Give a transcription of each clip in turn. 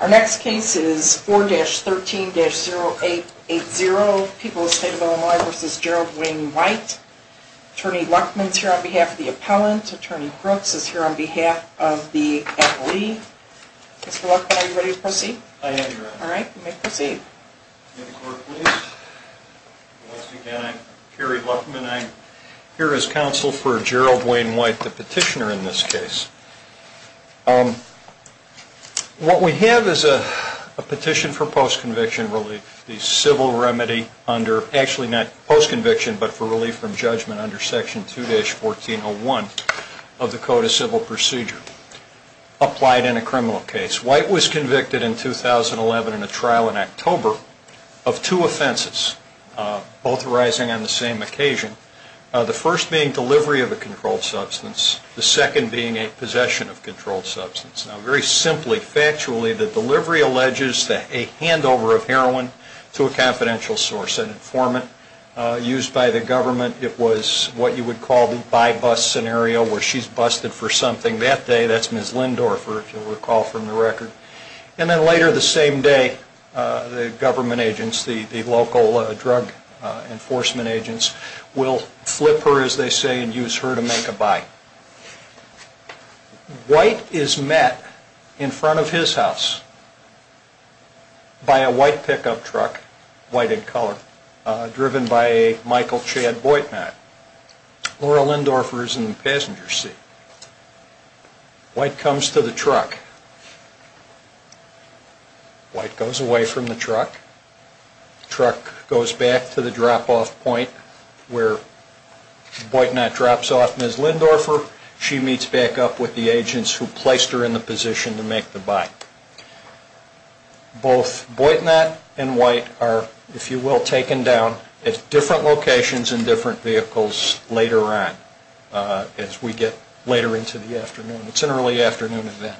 Our next case is 4-13-0880, People of the State of Illinois v. Gerald Wayne White. Attorney Luckman is here on behalf of the appellant. Attorney Brooks is here on behalf of the appellee. Mr. Luckman, are you ready to proceed? I am, Your Honor. All right, you may proceed. Once again, I'm Kerry Luckman. I'm here as counsel for Gerald Wayne White, the petitioner in this case. What we have is a petition for post-conviction relief. The civil remedy under, actually not post-conviction but for relief from judgment under Section 2-1401 of the Code of Civil Procedure applied in a criminal case. White was convicted in 2011 in a trial in October of two offenses, both arising on the same occasion. The first being delivery of a controlled substance, the second being a possession of a controlled substance. Very simply, factually, the delivery alleges a handover of heroin to a confidential source, an informant used by the government. It was what you would call the by-bus scenario where she's busted for something that day. That's Ms. Lindorfer, if you'll recall from the record. And then later the same day, the government agents, the local drug enforcement agents, will flip her, as they say, and use her to make a buy. White is met in front of his house by a white pickup truck, white in color, driven by a Michael Chad Boit man. Laura Lindorfer is in the passenger seat. White comes to the truck. White goes away from the truck. The truck goes back to the drop-off point where Boitnott drops off Ms. Lindorfer. She meets back up with the agents who placed her in the position to make the buy. Both Boitnott and White are, if you will, taken down at different locations in different vehicles later on as we get later into the afternoon. It's an early afternoon event.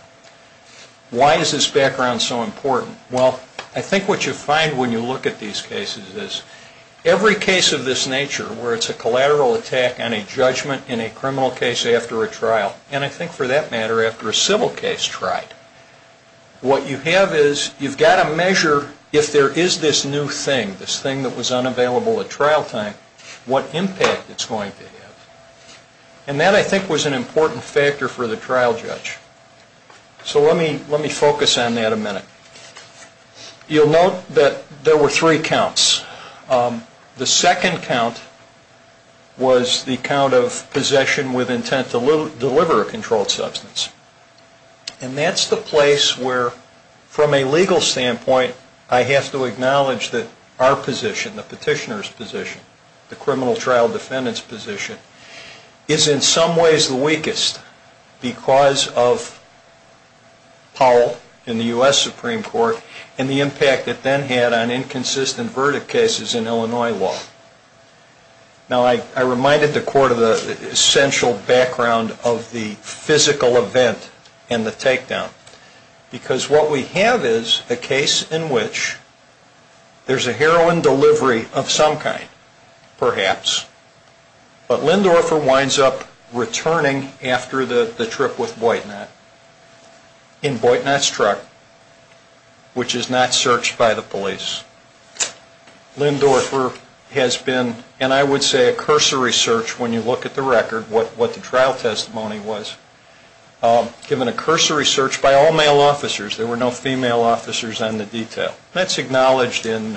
Why is this background so important? Well, I think what you find when you look at these cases is every case of this nature where it's a collateral attack on a judgment in a criminal case after a trial, and I think for that matter after a civil case tried, what you have is you've got to measure if there is this new thing, this thing that was unavailable at trial time, what impact it's going to have. And that, I think, was an important factor for the trial judge. So let me focus on that a minute. You'll note that there were three counts. The second count was the count of possession with intent to deliver a controlled substance. And that's the place where, from a legal standpoint, I have to acknowledge that our position, the petitioner's position, the criminal trial defendant's position, is in some ways the weakest because of Powell in the U.S. Supreme Court and the impact it then had on inconsistent verdict cases in Illinois law. Now, I reminded the Court of the essential background of the physical event and the takedown because what we have is a case in which there's a heroin delivery of some kind, perhaps, but Lindorfer winds up returning after the trip with Boitnat in Boitnat's truck, which is not searched by the police. Lindorfer has been, and I would say a cursory search when you look at the record, what the trial testimony was, given a cursory search by all male officers. There were no female officers on the detail. That's acknowledged in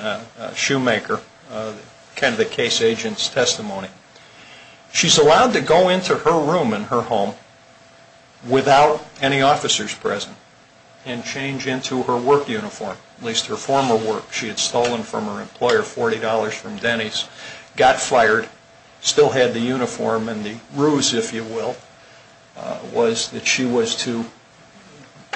Shoemaker, kind of the case agent's testimony. She's allowed to go into her room in her home without any officers present and change into her work uniform, at least her former work. She had stolen from her employer $40 from Denny's, got fired, still had the uniform and the ruse, if you will, was that she was to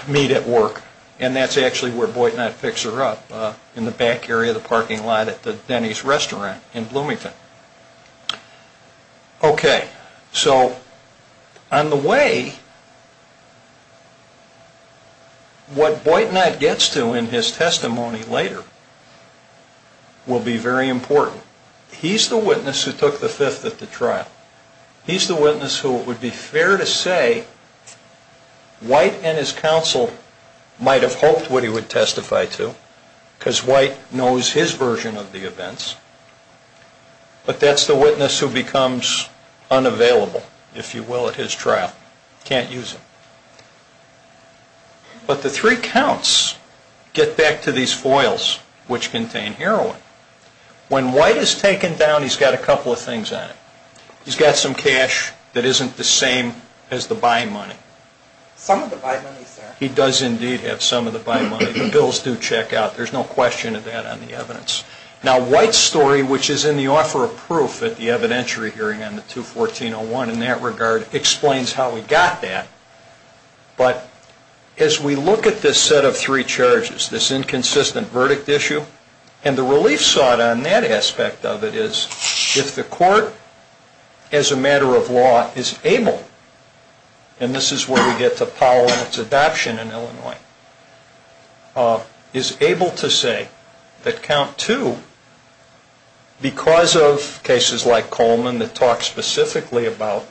meet at work, and that's actually where Boitnat picks her up, in the back area of the parking lot at the Denny's restaurant in Bloomington. Okay, so on the way, what Boitnat gets to in his testimony later will be very important. He's the witness who took the fifth at the trial. He's the witness who, it would be fair to say, White and his counsel might have hoped what he would testify to, because White knows his version of the events, but that's the witness who becomes unavailable, if you will, at his trial, can't use him. But the three counts get back to these foils, which contain heroin. When White is taken down, he's got a couple of things on him. He's got some cash that isn't the same as the buy money. Some of the buy money is there. He does indeed have some of the buy money. The bills do check out. There's no question of that on the evidence. Now, White's story, which is in the offer of proof at the evidentiary hearing on the 214-01 in that regard, explains how he got that, but as we look at this set of three charges, this inconsistent verdict issue and the relief sought on that aspect of it is if the court, as a matter of law, is able, and this is where we get to Powell and its adoption in Illinois, is able to say that count two, because of cases like Coleman that talk specifically about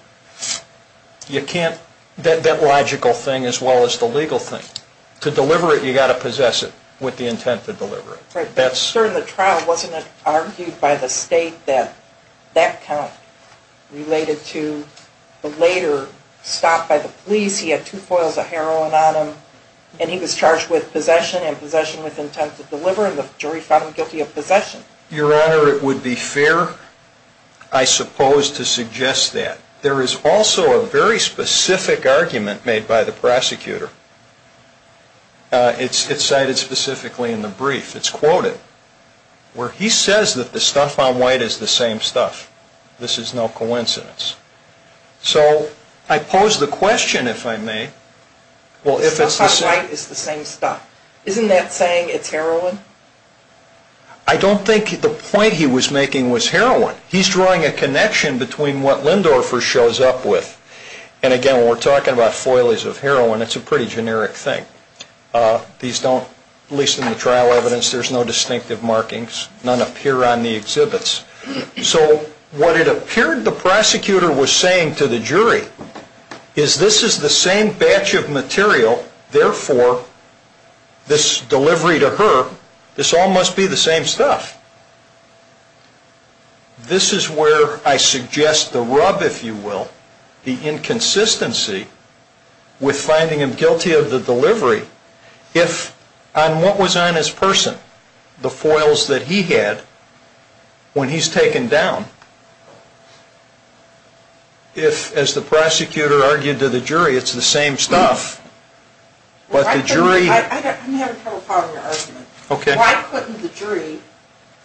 that logical thing as well as the legal thing, to deliver it, you've got to possess it with the intent to deliver it. During the trial, wasn't it argued by the state that that count related to the later stop by the police? He had two foils of heroin on him, and he was charged with possession and possession with intent to deliver, and the jury found him guilty of possession. Your Honor, it would be fair, I suppose, to suggest that. There is also a very specific argument made by the prosecutor. It's cited specifically in the brief. It's quoted where he says that the stuff on White is the same stuff. This is no coincidence. So I pose the question, if I may. The stuff on White is the same stuff. Isn't that saying it's heroin? I don't think the point he was making was heroin. He's drawing a connection between what Lindorfer shows up with, and, again, when we're talking about foils of heroin, it's a pretty generic thing. These don't, at least in the trial evidence, there's no distinctive markings. None appear on the exhibits. So what it appeared the prosecutor was saying to the jury is this is the same batch of material, therefore, this delivery to her, this all must be the same stuff. This is where I suggest the rub, if you will, the inconsistency with finding him guilty of the delivery. If on what was on his person, the foils that he had, when he's taken down, if, as the prosecutor argued to the jury, it's the same stuff, but the jury...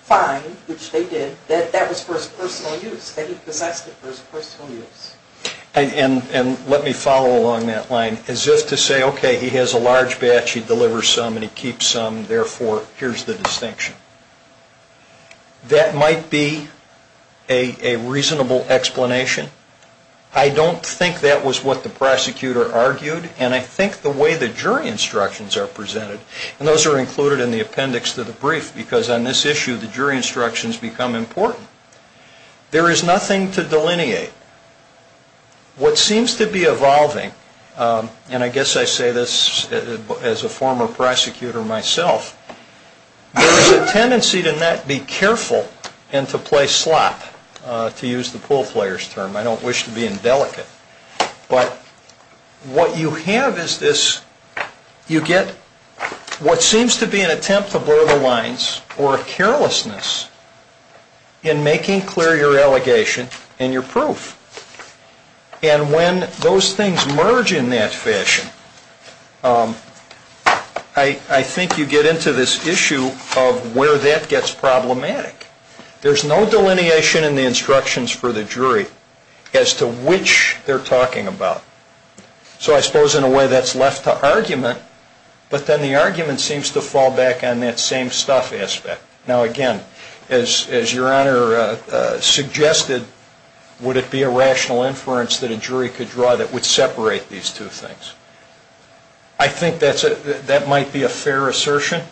find, which they did, that that was for his personal use, that he possessed it for his personal use. And let me follow along that line. As if to say, okay, he has a large batch, he delivers some and he keeps some, therefore, here's the distinction. That might be a reasonable explanation. I don't think that was what the prosecutor argued, and I think the way the jury instructions are presented, and those are included in the appendix to the brief, because on this issue the jury instructions become important. There is nothing to delineate. What seems to be evolving, and I guess I say this as a former prosecutor myself, there is a tendency to not be careful and to play slap, to use the pool player's term. I don't wish to be indelicate. But what you have is this, you get what seems to be an attempt to blur the lines or a carelessness in making clear your allegation and your proof. And when those things merge in that fashion, I think you get into this issue of where that gets problematic. There's no delineation in the instructions for the jury as to which they're talking about. So I suppose in a way that's left to argument, but then the argument seems to fall back on that same stuff aspect. Now again, as Your Honor suggested, would it be a rational inference that a jury could draw that would separate these two things? I think that might be a fair assertion,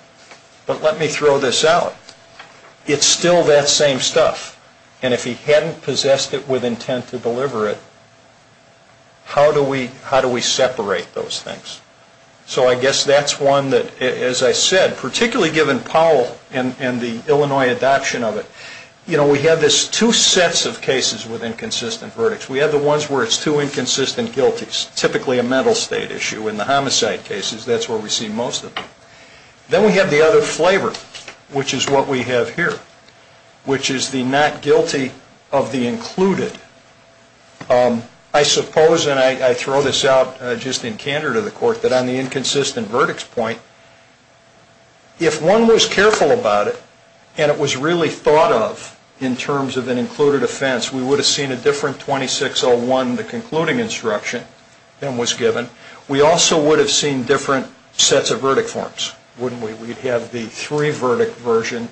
but let me throw this out. It's still that same stuff. And if he hadn't possessed it with intent to deliver it, how do we separate those things? So I guess that's one that, as I said, particularly given Powell and the Illinois adoption of it, we have this two sets of cases with inconsistent verdicts. We have the ones where it's two inconsistent guilties, typically a mental state issue in the homicide cases. That's where we see most of them. Then we have the other flavor, which is what we have here, which is the not guilty of the included. I suppose, and I throw this out just in candor to the Court, that on the inconsistent verdicts point, if one was careful about it, and it was really thought of in terms of an included offense, we would have seen a different 2601, the concluding instruction, than was given. We also would have seen different sets of verdict forms, wouldn't we? We'd have the three-verdict version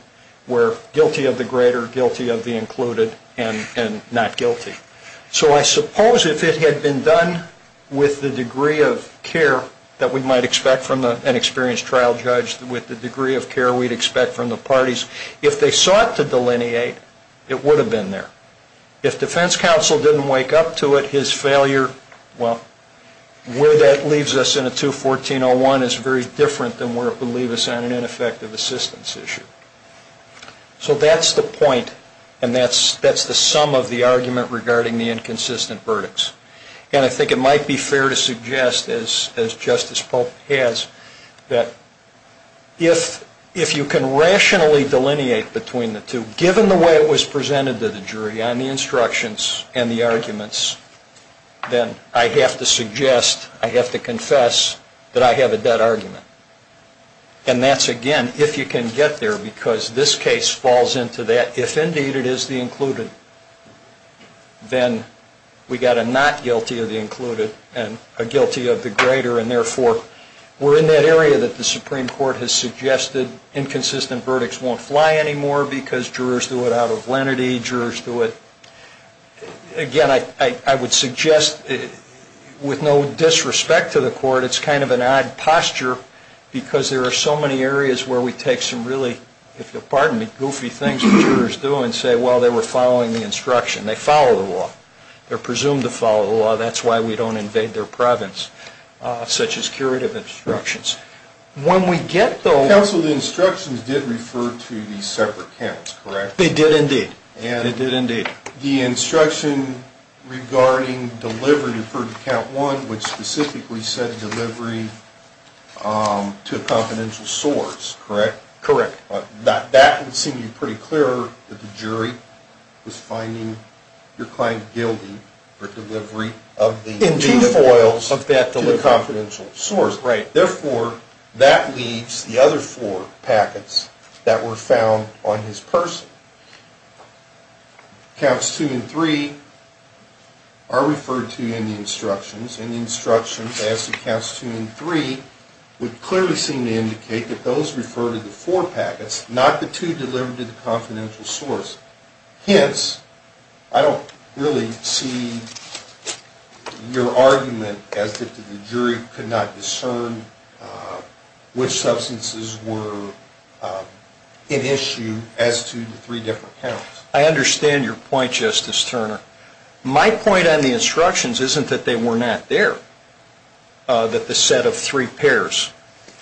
where guilty of the greater, guilty of the included, and not guilty. So I suppose if it had been done with the degree of care that we might expect from an experienced trial judge, with the degree of care we'd expect from the parties, if they sought to delineate, it would have been there. If defense counsel didn't wake up to it, his failure, well, where that leaves us in a 21401 is very different than where it would leave us on an ineffective assistance issue. So that's the point, and that's the sum of the argument regarding the inconsistent verdicts. And I think it might be fair to suggest, as Justice Polk has, that if you can rationally delineate between the two, given the way it was presented to the jury on the instructions and the arguments, then I have to suggest, I have to confess, that I have a dead argument. And that's, again, if you can get there, because this case falls into that. If indeed it is the included, then we've got a not guilty of the included and a guilty of the greater, and therefore we're in that area that the Supreme Court has suggested. Inconsistent verdicts won't fly anymore because jurors do it out of lenity. Jurors do it, again, I would suggest, with no disrespect to the court, it's kind of an odd posture because there are so many areas where we take some really, if you'll pardon me, goofy things the jurors do and say, well, they were following the instruction. They follow the law. They're presumed to follow the law. That's why we don't invade their province, such as curative instructions. When we get those... Counsel, the instructions did refer to these separate counts, correct? They did, indeed. They did, indeed. The instruction regarding delivery referred to count one, which specifically said delivery to a confidential source, correct? Correct. That would seem to be pretty clear that the jury was finding your client guilty for delivery of the... In two foils of that delivery. ...to a confidential source. Right. Therefore, that leaves the other four packets that were found on his person. And the instructions as to counts two and three would clearly seem to indicate that those refer to the four packets, not the two delivered to the confidential source. Hence, I don't really see your argument as to the jury could not discern which substances were in issue as to the three different counts. I understand your point, Justice Turner. My point on the instructions isn't that they were not there, that the set of three pairs,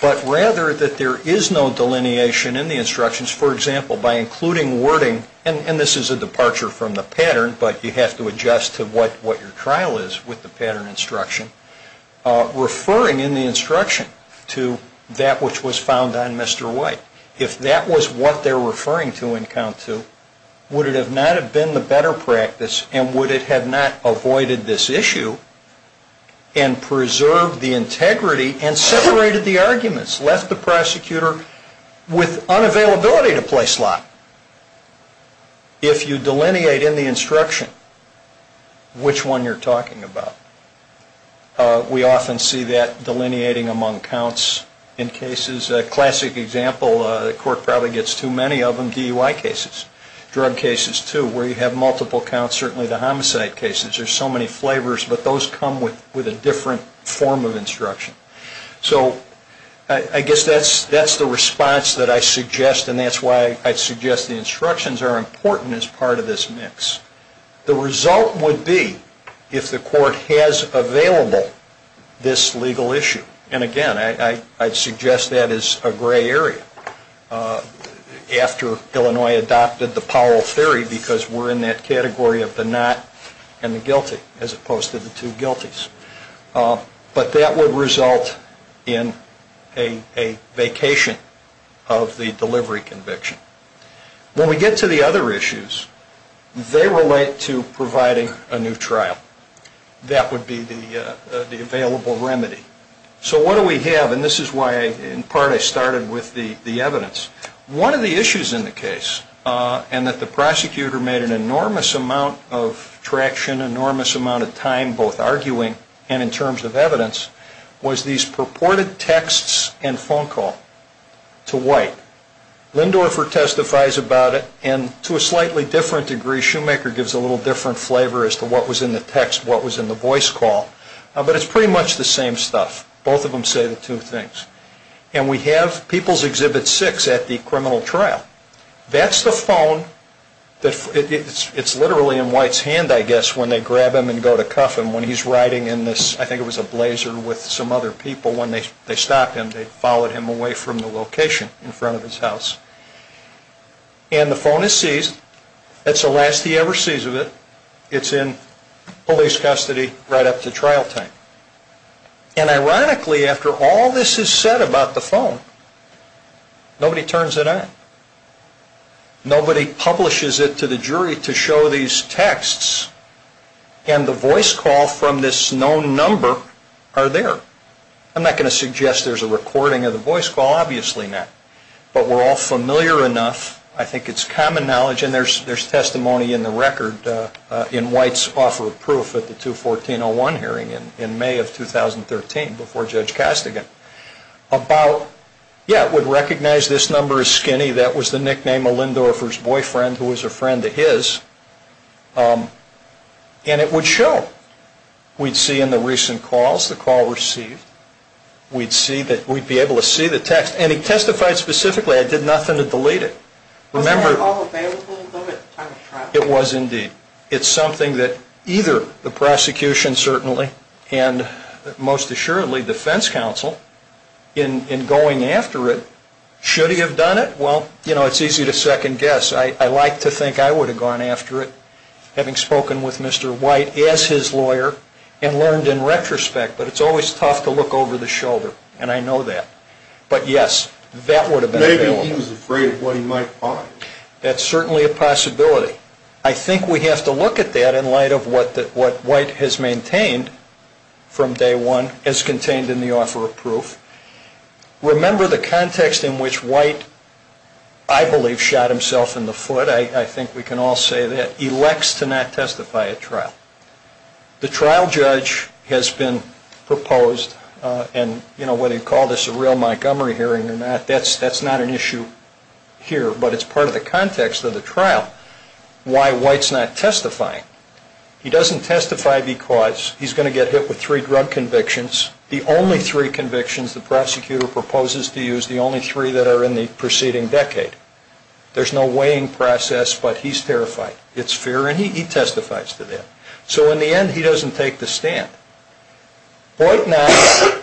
but rather that there is no delineation in the instructions. For example, by including wording, and this is a departure from the pattern, but you have to adjust to what your trial is with the pattern instruction, referring in the instruction to that which was found on Mr. White. If that was what they're referring to in count two, would it not have been the better practice and would it have not avoided this issue and preserved the integrity and separated the arguments, left the prosecutor with unavailability to play slot? If you delineate in the instruction, which one you're talking about? We often see that delineating among counts in cases. A classic example, the court probably gets too many of them, DUI cases, drug cases too, where you have multiple counts, certainly the homicide cases. There's so many flavors, but those come with a different form of instruction. So I guess that's the response that I suggest, and that's why I suggest the instructions are important as part of this mix. The result would be if the court has available this legal issue, and again, I'd suggest that as a gray area after Illinois adopted the Powell theory because we're in that category of the not and the guilty as opposed to the two guilties. But that would result in a vacation of the delivery conviction. When we get to the other issues, they relate to providing a new trial. That would be the available remedy. So what do we have, and this is why in part I started with the evidence. One of the issues in the case, and that the prosecutor made an enormous amount of traction, enormous amount of time both arguing and in terms of evidence, was these purported texts and phone call to White. Lindorfer testifies about it, and to a slightly different degree, Shoemaker gives a little different flavor as to what was in the text, what was in the voice call. But it's pretty much the same stuff. Both of them say the two things. And we have People's Exhibit 6 at the criminal trial. That's the phone. It's literally in White's hand, I guess, when they grab him and go to cuff him. When he's riding in this, I think it was a Blazer with some other people, when they stopped him, they followed him away from the location in front of his house. And the phone is seized. It's the last he ever sees of it. It's in police custody right up to trial time. And ironically, after all this is said about the phone, nobody turns it on. Nobody publishes it to the jury to show these texts. And the voice call from this known number are there. I'm not going to suggest there's a recording of the voice call. Obviously not. But we're all familiar enough, I think it's common knowledge, and there's testimony in the record in White's offer of proof at the 214-01 hearing in May of 2013 before Judge Castigan about, yeah, it would recognize this number as skinny. That was the nickname of Lindorfer's boyfriend who was a friend of his. And it would show. We'd see in the recent calls the call received. We'd be able to see the text. And he testified specifically, I did nothing to delete it. Was that all available at the time of trial? It was indeed. It's something that either the prosecution certainly, and most assuredly defense counsel, in going after it, should he have done it? Well, you know, it's easy to second guess. I like to think I would have gone after it, having spoken with Mr. White as his lawyer and learned in retrospect, but it's always tough to look over the shoulder, and I know that. But, yes, that would have been available. Maybe he was afraid of what he might find. That's certainly a possibility. I think we have to look at that in light of what White has maintained from day one as contained in the offer of proof. Remember the context in which White, I believe, shot himself in the foot, I think we can all say that, elects to not testify at trial. The trial judge has been proposed, and whether you call this a real Montgomery hearing or not, that's not an issue here. But it's part of the context of the trial, why White's not testifying. He doesn't testify because he's going to get hit with three drug convictions, the only three convictions the prosecutor proposes to use, the only three that are in the preceding decade. There's no weighing process, but he's terrified. It's fair, and he testifies to that. So in the end, he doesn't take the stand. White now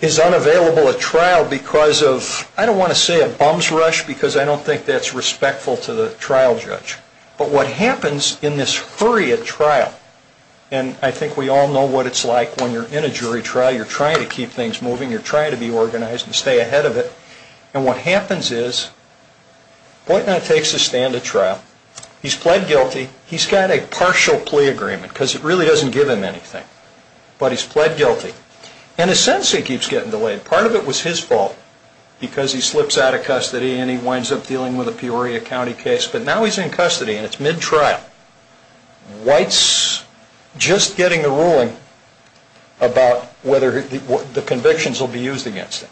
is unavailable at trial because of, I don't want to say a bums rush, because I don't think that's respectful to the trial judge. But what happens in this hurry at trial, and I think we all know what it's like when you're in a jury trial, you're trying to keep things moving, you're trying to be organized and stay ahead of it, and what happens is White now takes his stand at trial. He's pled guilty. He's got a partial plea agreement because it really doesn't give him anything, but he's pled guilty. And his sentence, he keeps getting delayed. Part of it was his fault because he slips out of custody and he winds up dealing with a Peoria County case, but now he's in custody and it's mid-trial. White's just getting a ruling about whether the convictions will be used against him.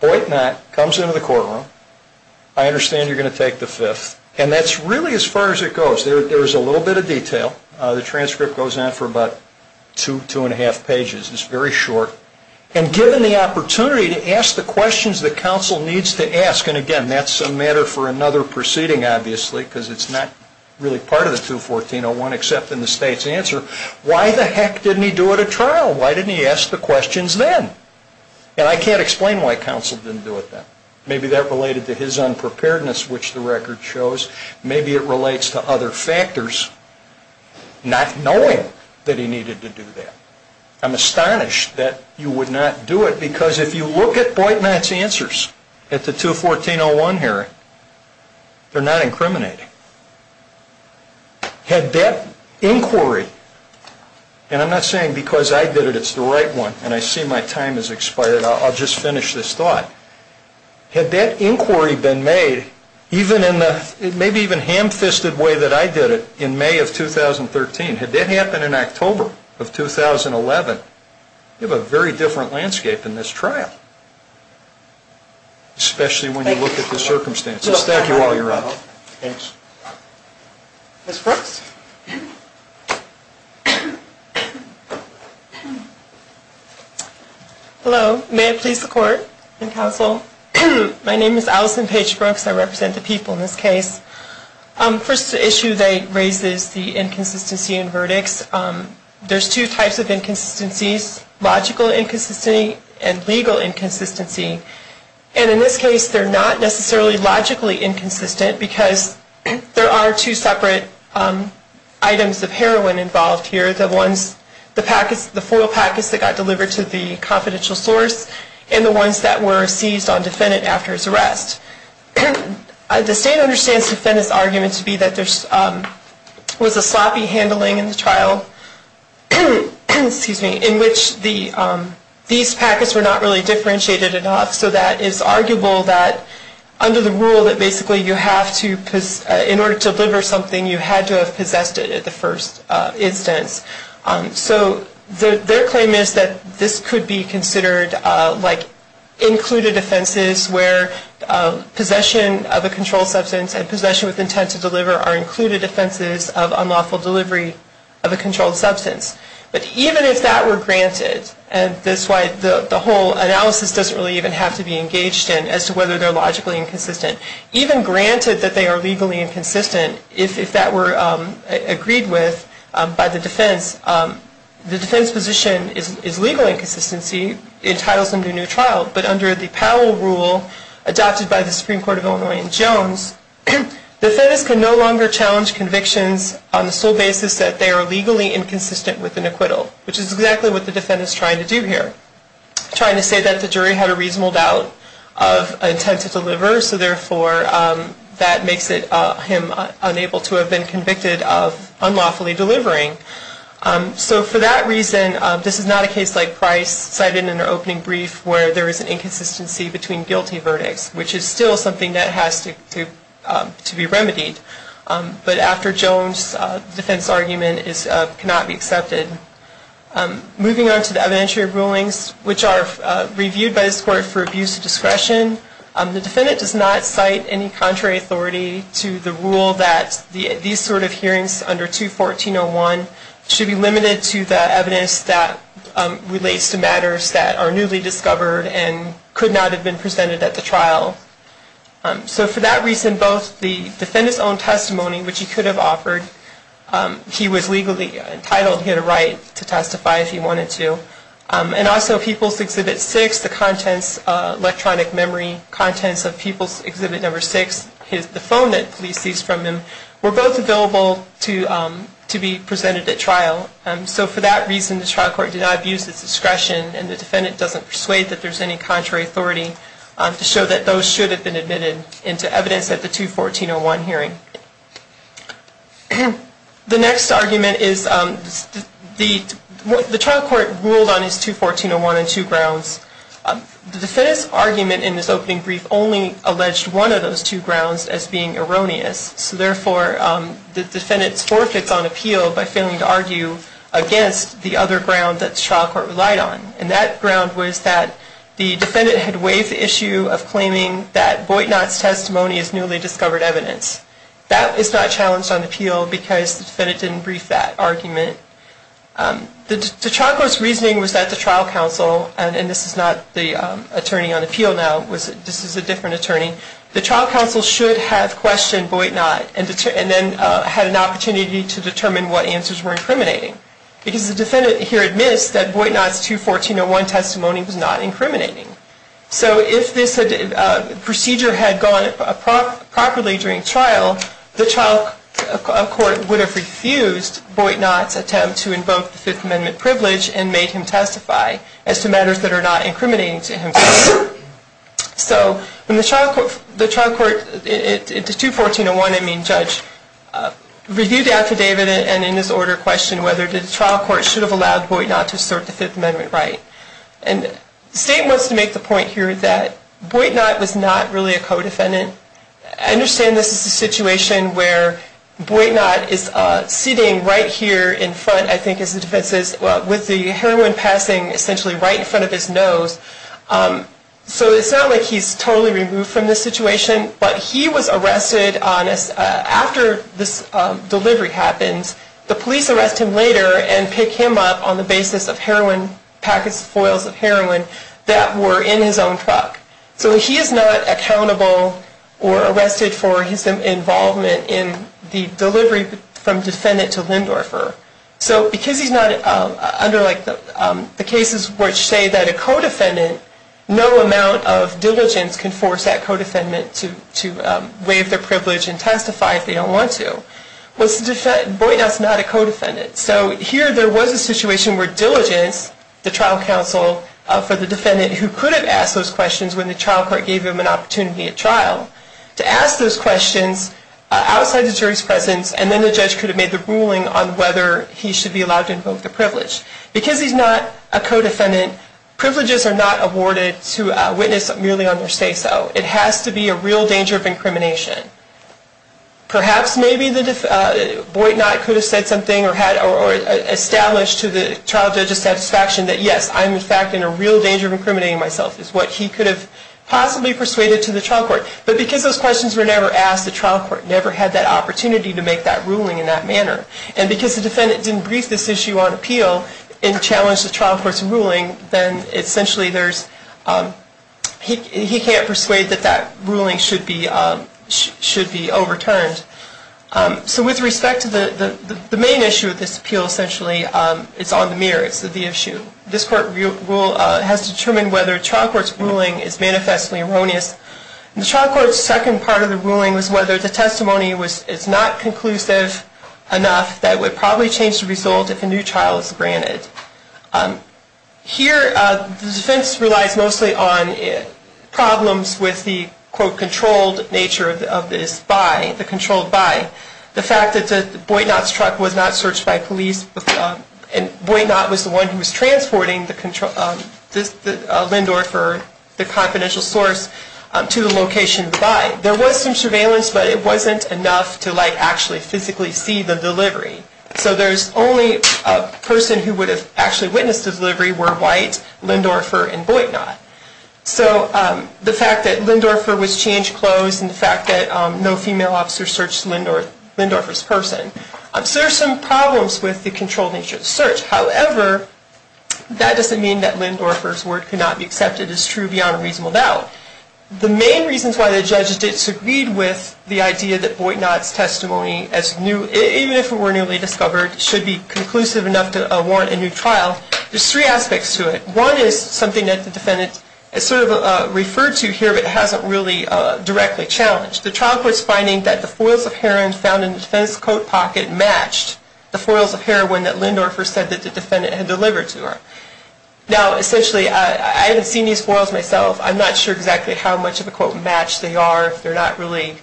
Boyt Knott comes into the courtroom. I understand you're going to take the Fifth, and that's really as far as it goes. There is a little bit of detail. The transcript goes on for about two, two and a half pages. It's very short. And given the opportunity to ask the questions that counsel needs to ask, and again, that's a matter for another proceeding, obviously, because it's not really part of the 214-01 except in the state's answer, why the heck didn't he do it at trial? Why didn't he ask the questions then? And I can't explain why counsel didn't do it then. Maybe that related to his unpreparedness, which the record shows. Maybe it relates to other factors, not knowing that he needed to do that. I'm astonished that you would not do it because if you look at Boyt Knott's answers at the 214-01 hearing, they're not incriminating. Had that inquiry, and I'm not saying because I did it, it's the right one, and I see my time has expired, I'll just finish this thought. Had that inquiry been made, even in the maybe even ham-fisted way that I did it, in May of 2013, had that happened in October of 2011, you have a very different landscape in this trial, especially when you look at the circumstances. Thank you all. You're welcome. Thanks. Ms. Brooks? Hello. May it please the Court and counsel, my name is Allison Paige Brooks. I represent the people in this case. First issue that raises the inconsistency in verdicts, there's two types of inconsistencies, logical inconsistency and legal inconsistency. And in this case, they're not necessarily logically inconsistent because there are two separate items of heroin involved here, the foil packets that got delivered to the confidential source and the ones that were seized on defendant after his arrest. The state understands defendant's argument to be that there was a sloppy handling in the trial in which these packets were not really differentiated enough, so that it's arguable that under the rule that basically you have to, in order to deliver something, you had to have possessed it at the first instance. So their claim is that this could be considered like included offenses where possession of a controlled substance and possession with intent to deliver are included offenses of unlawful delivery of a controlled substance. But even if that were granted, and that's why the whole analysis doesn't really even have to be engaged in as to whether they're logically inconsistent. Even granted that they are legally inconsistent, if that were agreed with by the defense, the defense position is legal inconsistency entitles them to a new trial. But under the Powell rule adopted by the Supreme Court of Illinois and Jones, defendants can no longer challenge convictions on the sole basis that they are legally inconsistent with an acquittal, which is exactly what the defendant is trying to do here. Trying to say that the jury had a reasonable doubt of intent to deliver, so therefore that makes him unable to have been convicted of unlawfully delivering. So for that reason, this is not a case like Price cited in their opening brief where there is an inconsistency between guilty verdicts, which is still something that has to be remedied. But after Jones, the defense argument cannot be accepted. Moving on to the evidentiary rulings, which are reviewed by this court for abuse of discretion, the defendant does not cite any contrary authority to the rule that these sort of hearings under 214.01 should be limited to the evidence that relates to matters that are newly discovered and could not have been presented at the trial. So for that reason, both the defendant's own testimony, which he could have offered, he was legally entitled, he had a right to testify if he wanted to. And also People's Exhibit 6, the contents, electronic memory contents of People's Exhibit 6, the phone that police seized from him, were both available to be presented at trial. So for that reason, the trial court did not abuse its discretion and the defendant doesn't persuade that there is any contrary authority to show that those should have been admitted into evidence at the 214.01 hearing. The next argument is the trial court ruled on its 214.01 on two grounds. The defendant's argument in this opening brief only alleged one of those two grounds as being erroneous. So therefore, the defendant forfeits on appeal by failing to argue against the other ground that the trial court relied on. And that ground was that the defendant had waived the issue of claiming that Boytnot's testimony is newly discovered evidence. That is not challenged on appeal because the defendant didn't brief that argument. The trial court's reasoning was that the trial counsel, and this is not the attorney on appeal now, this is a different attorney, the trial counsel should have questioned Boytnot and then had an opportunity to determine what answers were incriminating. Because the defendant here admits that Boytnot's 214.01 testimony was not incriminating. So if this procedure had gone properly during trial, the trial court would have refused Boytnot's attempt to invoke the Fifth Amendment privilege and made him testify as to matters that are not incriminating to him. So when the trial court in the 214.01, I mean, judge reviewed after David and in his order questioned whether the trial court should have allowed Boytnot to assert the Fifth Amendment right. And the state wants to make the point here that Boytnot was not really a co-defendant. I understand this is a situation where Boytnot is sitting right here in front, I think as the defense says, with the heroin passing essentially right in front of his nose. So it's not like he's totally removed from this situation, but he was arrested after this delivery happens. The police arrest him later and pick him up on the basis of heroin packets, foils of heroin that were in his own truck. So he is not accountable or arrested for his involvement in the delivery from defendant to Lindorfer. So because he's not under the cases which say that a co-defendant, no amount of diligence can force that co-defendant to waive their privilege and testify if they don't want to. Boytnot's not a co-defendant. So here there was a situation where diligence, the trial counsel for the defendant who could have asked those questions when the trial court gave him an opportunity at trial, to ask those questions outside the jury's presence, and then the judge could have made the ruling on whether he should be allowed to invoke the privilege. Because he's not a co-defendant, privileges are not awarded to a witness merely on their say-so. It has to be a real danger of incrimination. Perhaps maybe Boytnot could have said something or established to the trial judge's satisfaction that yes, I'm in fact in a real danger of incriminating myself is what he could have possibly persuaded to the trial court. But because those questions were never asked, the trial court never had that opportunity to make that ruling in that manner. And because the defendant didn't brief this issue on appeal and challenge the trial court's ruling, then essentially he can't persuade that that ruling should be overturned. So with respect to the main issue of this appeal, essentially it's on the mirror. It's the issue. This court has determined whether trial court's ruling is manifestly erroneous. The trial court's second part of the ruling was whether the testimony is not conclusive enough that would probably change the result if a new trial is Here the defense relies mostly on problems with the, quote, The fact that Boytnot's truck was not searched by police and Boytnot was the one who was transporting the Lindorfer, the confidential source, to the location of the buy. There was some surveillance, but it wasn't enough to like actually physically see the delivery. So there's only a person who would have actually witnessed the delivery were White, Lindorfer, and Boytnot. So the fact that Lindorfer was changed clothes and the fact that no female officer searched Lindorfer's person. So there's some problems with the controlled nature of the search. However, that doesn't mean that Lindorfer's word could not be accepted as true beyond a reasonable doubt. The main reasons why the judges disagreed with the idea that Boytnot's testimony, even if it were newly discovered, should be conclusive enough to warrant a new trial, there's three aspects to it. One is something that the defendant has sort of referred to here, but hasn't really directly challenged. The trial court's finding that the foils of heroin found in the defendant's coat pocket matched the foils of heroin that Lindorfer said that the defendant had delivered to her. Now, essentially, I haven't seen these foils myself. I'm not sure exactly how much of a, quote, match they are if they're not really,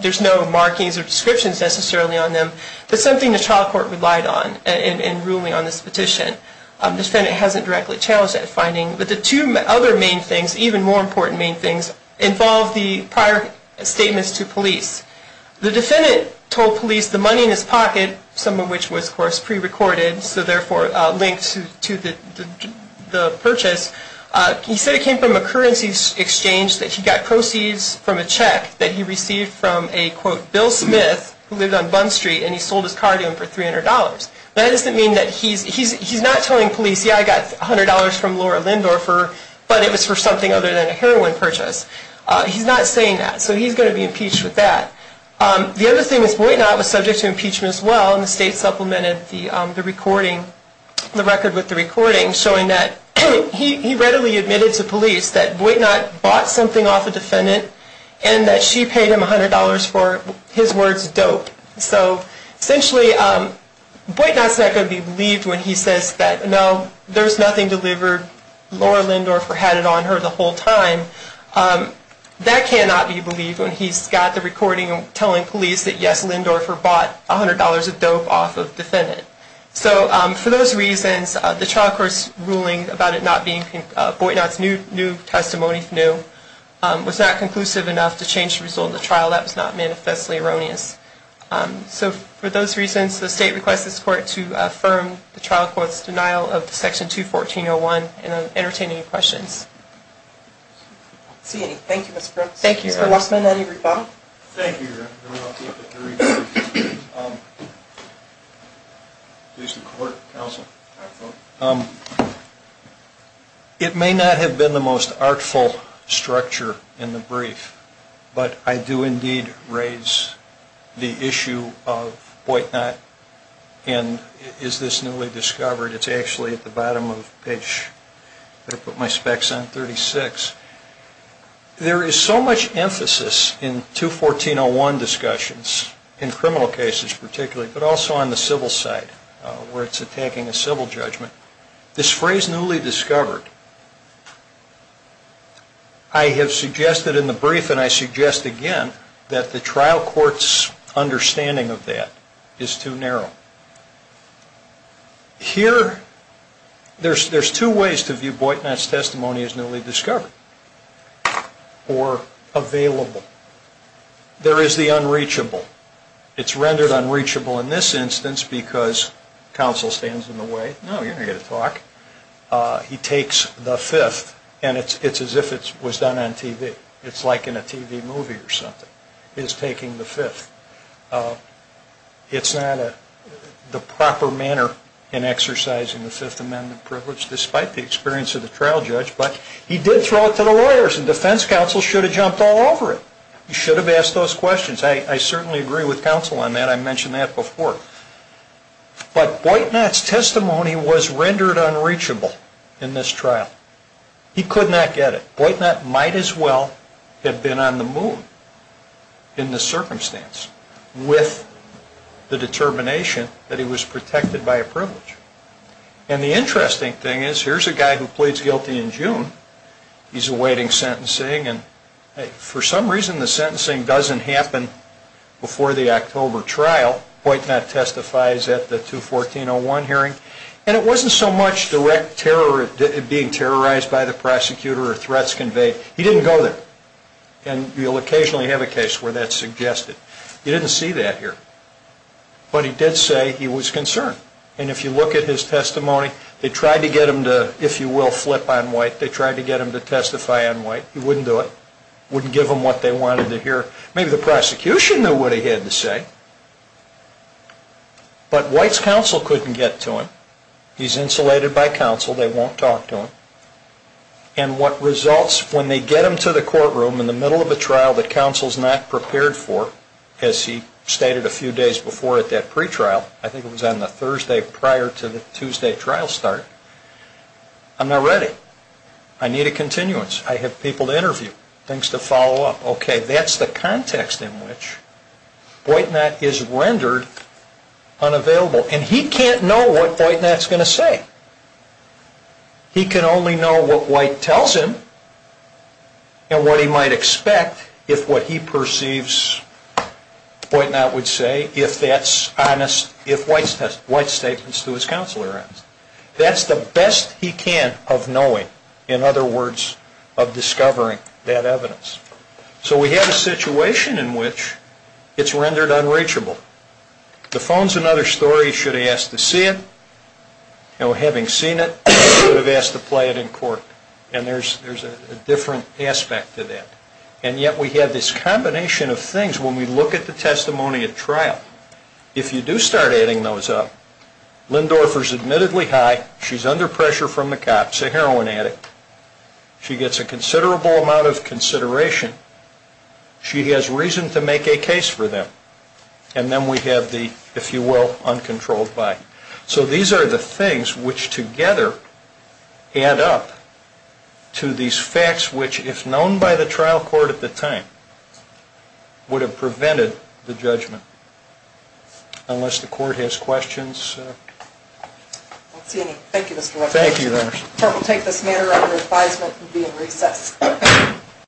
there's no markings or descriptions necessarily on them. That's something the trial court relied on in ruling on this petition. The defendant hasn't directly challenged that finding. But the two other main things, even more important main things, involve the prior statements to police. The defendant told police the money in his pocket, some of which was, of course, prerecorded, so therefore linked to the purchase, he said it came from a currency exchange that he got proceeds from a check that he received from a, quote, Bill Smith who lived on Bund Street, and he sold his car to him for $300. That doesn't mean that he's not telling police, yeah, I got $100 from Laura Lindorfer, but it was for something other than a heroin purchase. He's not saying that. So he's going to be impeached with that. The other thing is Boytnot was subject to impeachment as well, and the state supplemented the recording, the record with the recording, showing that he readily admitted to police that Boytnot bought something off a defendant and that she paid him $100 for his words dope. So essentially, Boytnot's not going to be believed when he says that, no, there's nothing delivered. Laura Lindorfer had it on her the whole time. That cannot be believed when he's got the recording telling police that, yes, Lindorfer bought $100 of dope off of a defendant. So for those reasons, the trial court's ruling about it not being, Boytnot's new testimony, new, was not conclusive enough to change the result of the trial. That was not manifestly erroneous. So for those reasons, the state requests this court to affirm the trial court's denial of the section 214-01 and entertain any questions. Thank you, Mr. Grossman. Any rebuttal? Thank you, Your Honor. Please, the court, counsel. But I do indeed raise the issue of Boytnot and is this newly discovered. It's actually at the bottom of page, I'm going to put my specs on 36. There is so much emphasis in 214-01 discussions, in criminal cases particularly, but also on the civil side where it's attacking a civil judgment. This phrase, newly discovered, I have suggested in the brief and I suggest again that the trial court's understanding of that is too narrow. Here, there's two ways to view Boytnot's testimony as newly discovered or available. There is the unreachable. It's rendered unreachable in this instance because counsel stands in the way. No, you're not going to get a talk. He takes the fifth and it's as if it was done on TV. It's like in a TV movie or something. He's taking the fifth. It's not the proper manner in exercising the Fifth Amendment privilege despite the experience of the trial judge, but he did throw it to the lawyers and defense counsel should have jumped all over it. He should have asked those questions. I certainly agree with counsel on that. I mentioned that before. But Boytnot's testimony was rendered unreachable in this trial. He could not get it. Boytnot might as well have been on the moon in the circumstance with the determination that he was protected by a privilege. And the interesting thing is here's a guy who pleads guilty in June. He's awaiting sentencing and for some reason the sentencing doesn't happen before the October trial. Boytnot testifies at the 214-01 hearing. And it wasn't so much direct terror being terrorized by the prosecutor or threats conveyed. He didn't go there. And you'll occasionally have a case where that's suggested. You didn't see that here. But he did say he was concerned. And if you look at his testimony, they tried to get him to, if you will, flip on Boyt. They tried to get him to testify on Boyt. He wouldn't do it. Wouldn't give them what they wanted to hear. Maybe the prosecution knew what he had to say. But Boyt's counsel couldn't get to him. He's insulated by counsel. They won't talk to him. And what results when they get him to the courtroom in the middle of a trial that counsel's not prepared for, as he stated a few days before at that pretrial, I think it was on the Thursday prior to the Tuesday trial start, I'm not ready. I need a continuance. I have people to interview, things to follow up. Okay. That's the context in which Boytnot is rendered unavailable. And he can't know what Boytnot's going to say. He can only know what White tells him and what he might expect if what he perceives Boytnot would say, if that's honest, if White's statements to his counsel are honest. That's the best he can of knowing. In other words, of discovering that evidence. So we have a situation in which it's rendered unreachable. The phone's another story. He should have asked to see it. Having seen it, he should have asked to play it in court. And there's a different aspect to that. And yet we have this combination of things when we look at the testimony at trial. If you do start adding those up, Lindorfer's admittedly high. She's under pressure from the cops. She's a heroin addict. She gets a considerable amount of consideration. She has reason to make a case for them. And then we have the, if you will, uncontrolled buy. So these are the things which together add up to these facts which, if known by the trial court at the time, would have prevented the judgment. Unless the court has questions. I don't see any. Thank you, Mr. Ruffin. Thank you. The court will take this matter under advisement and be in recess.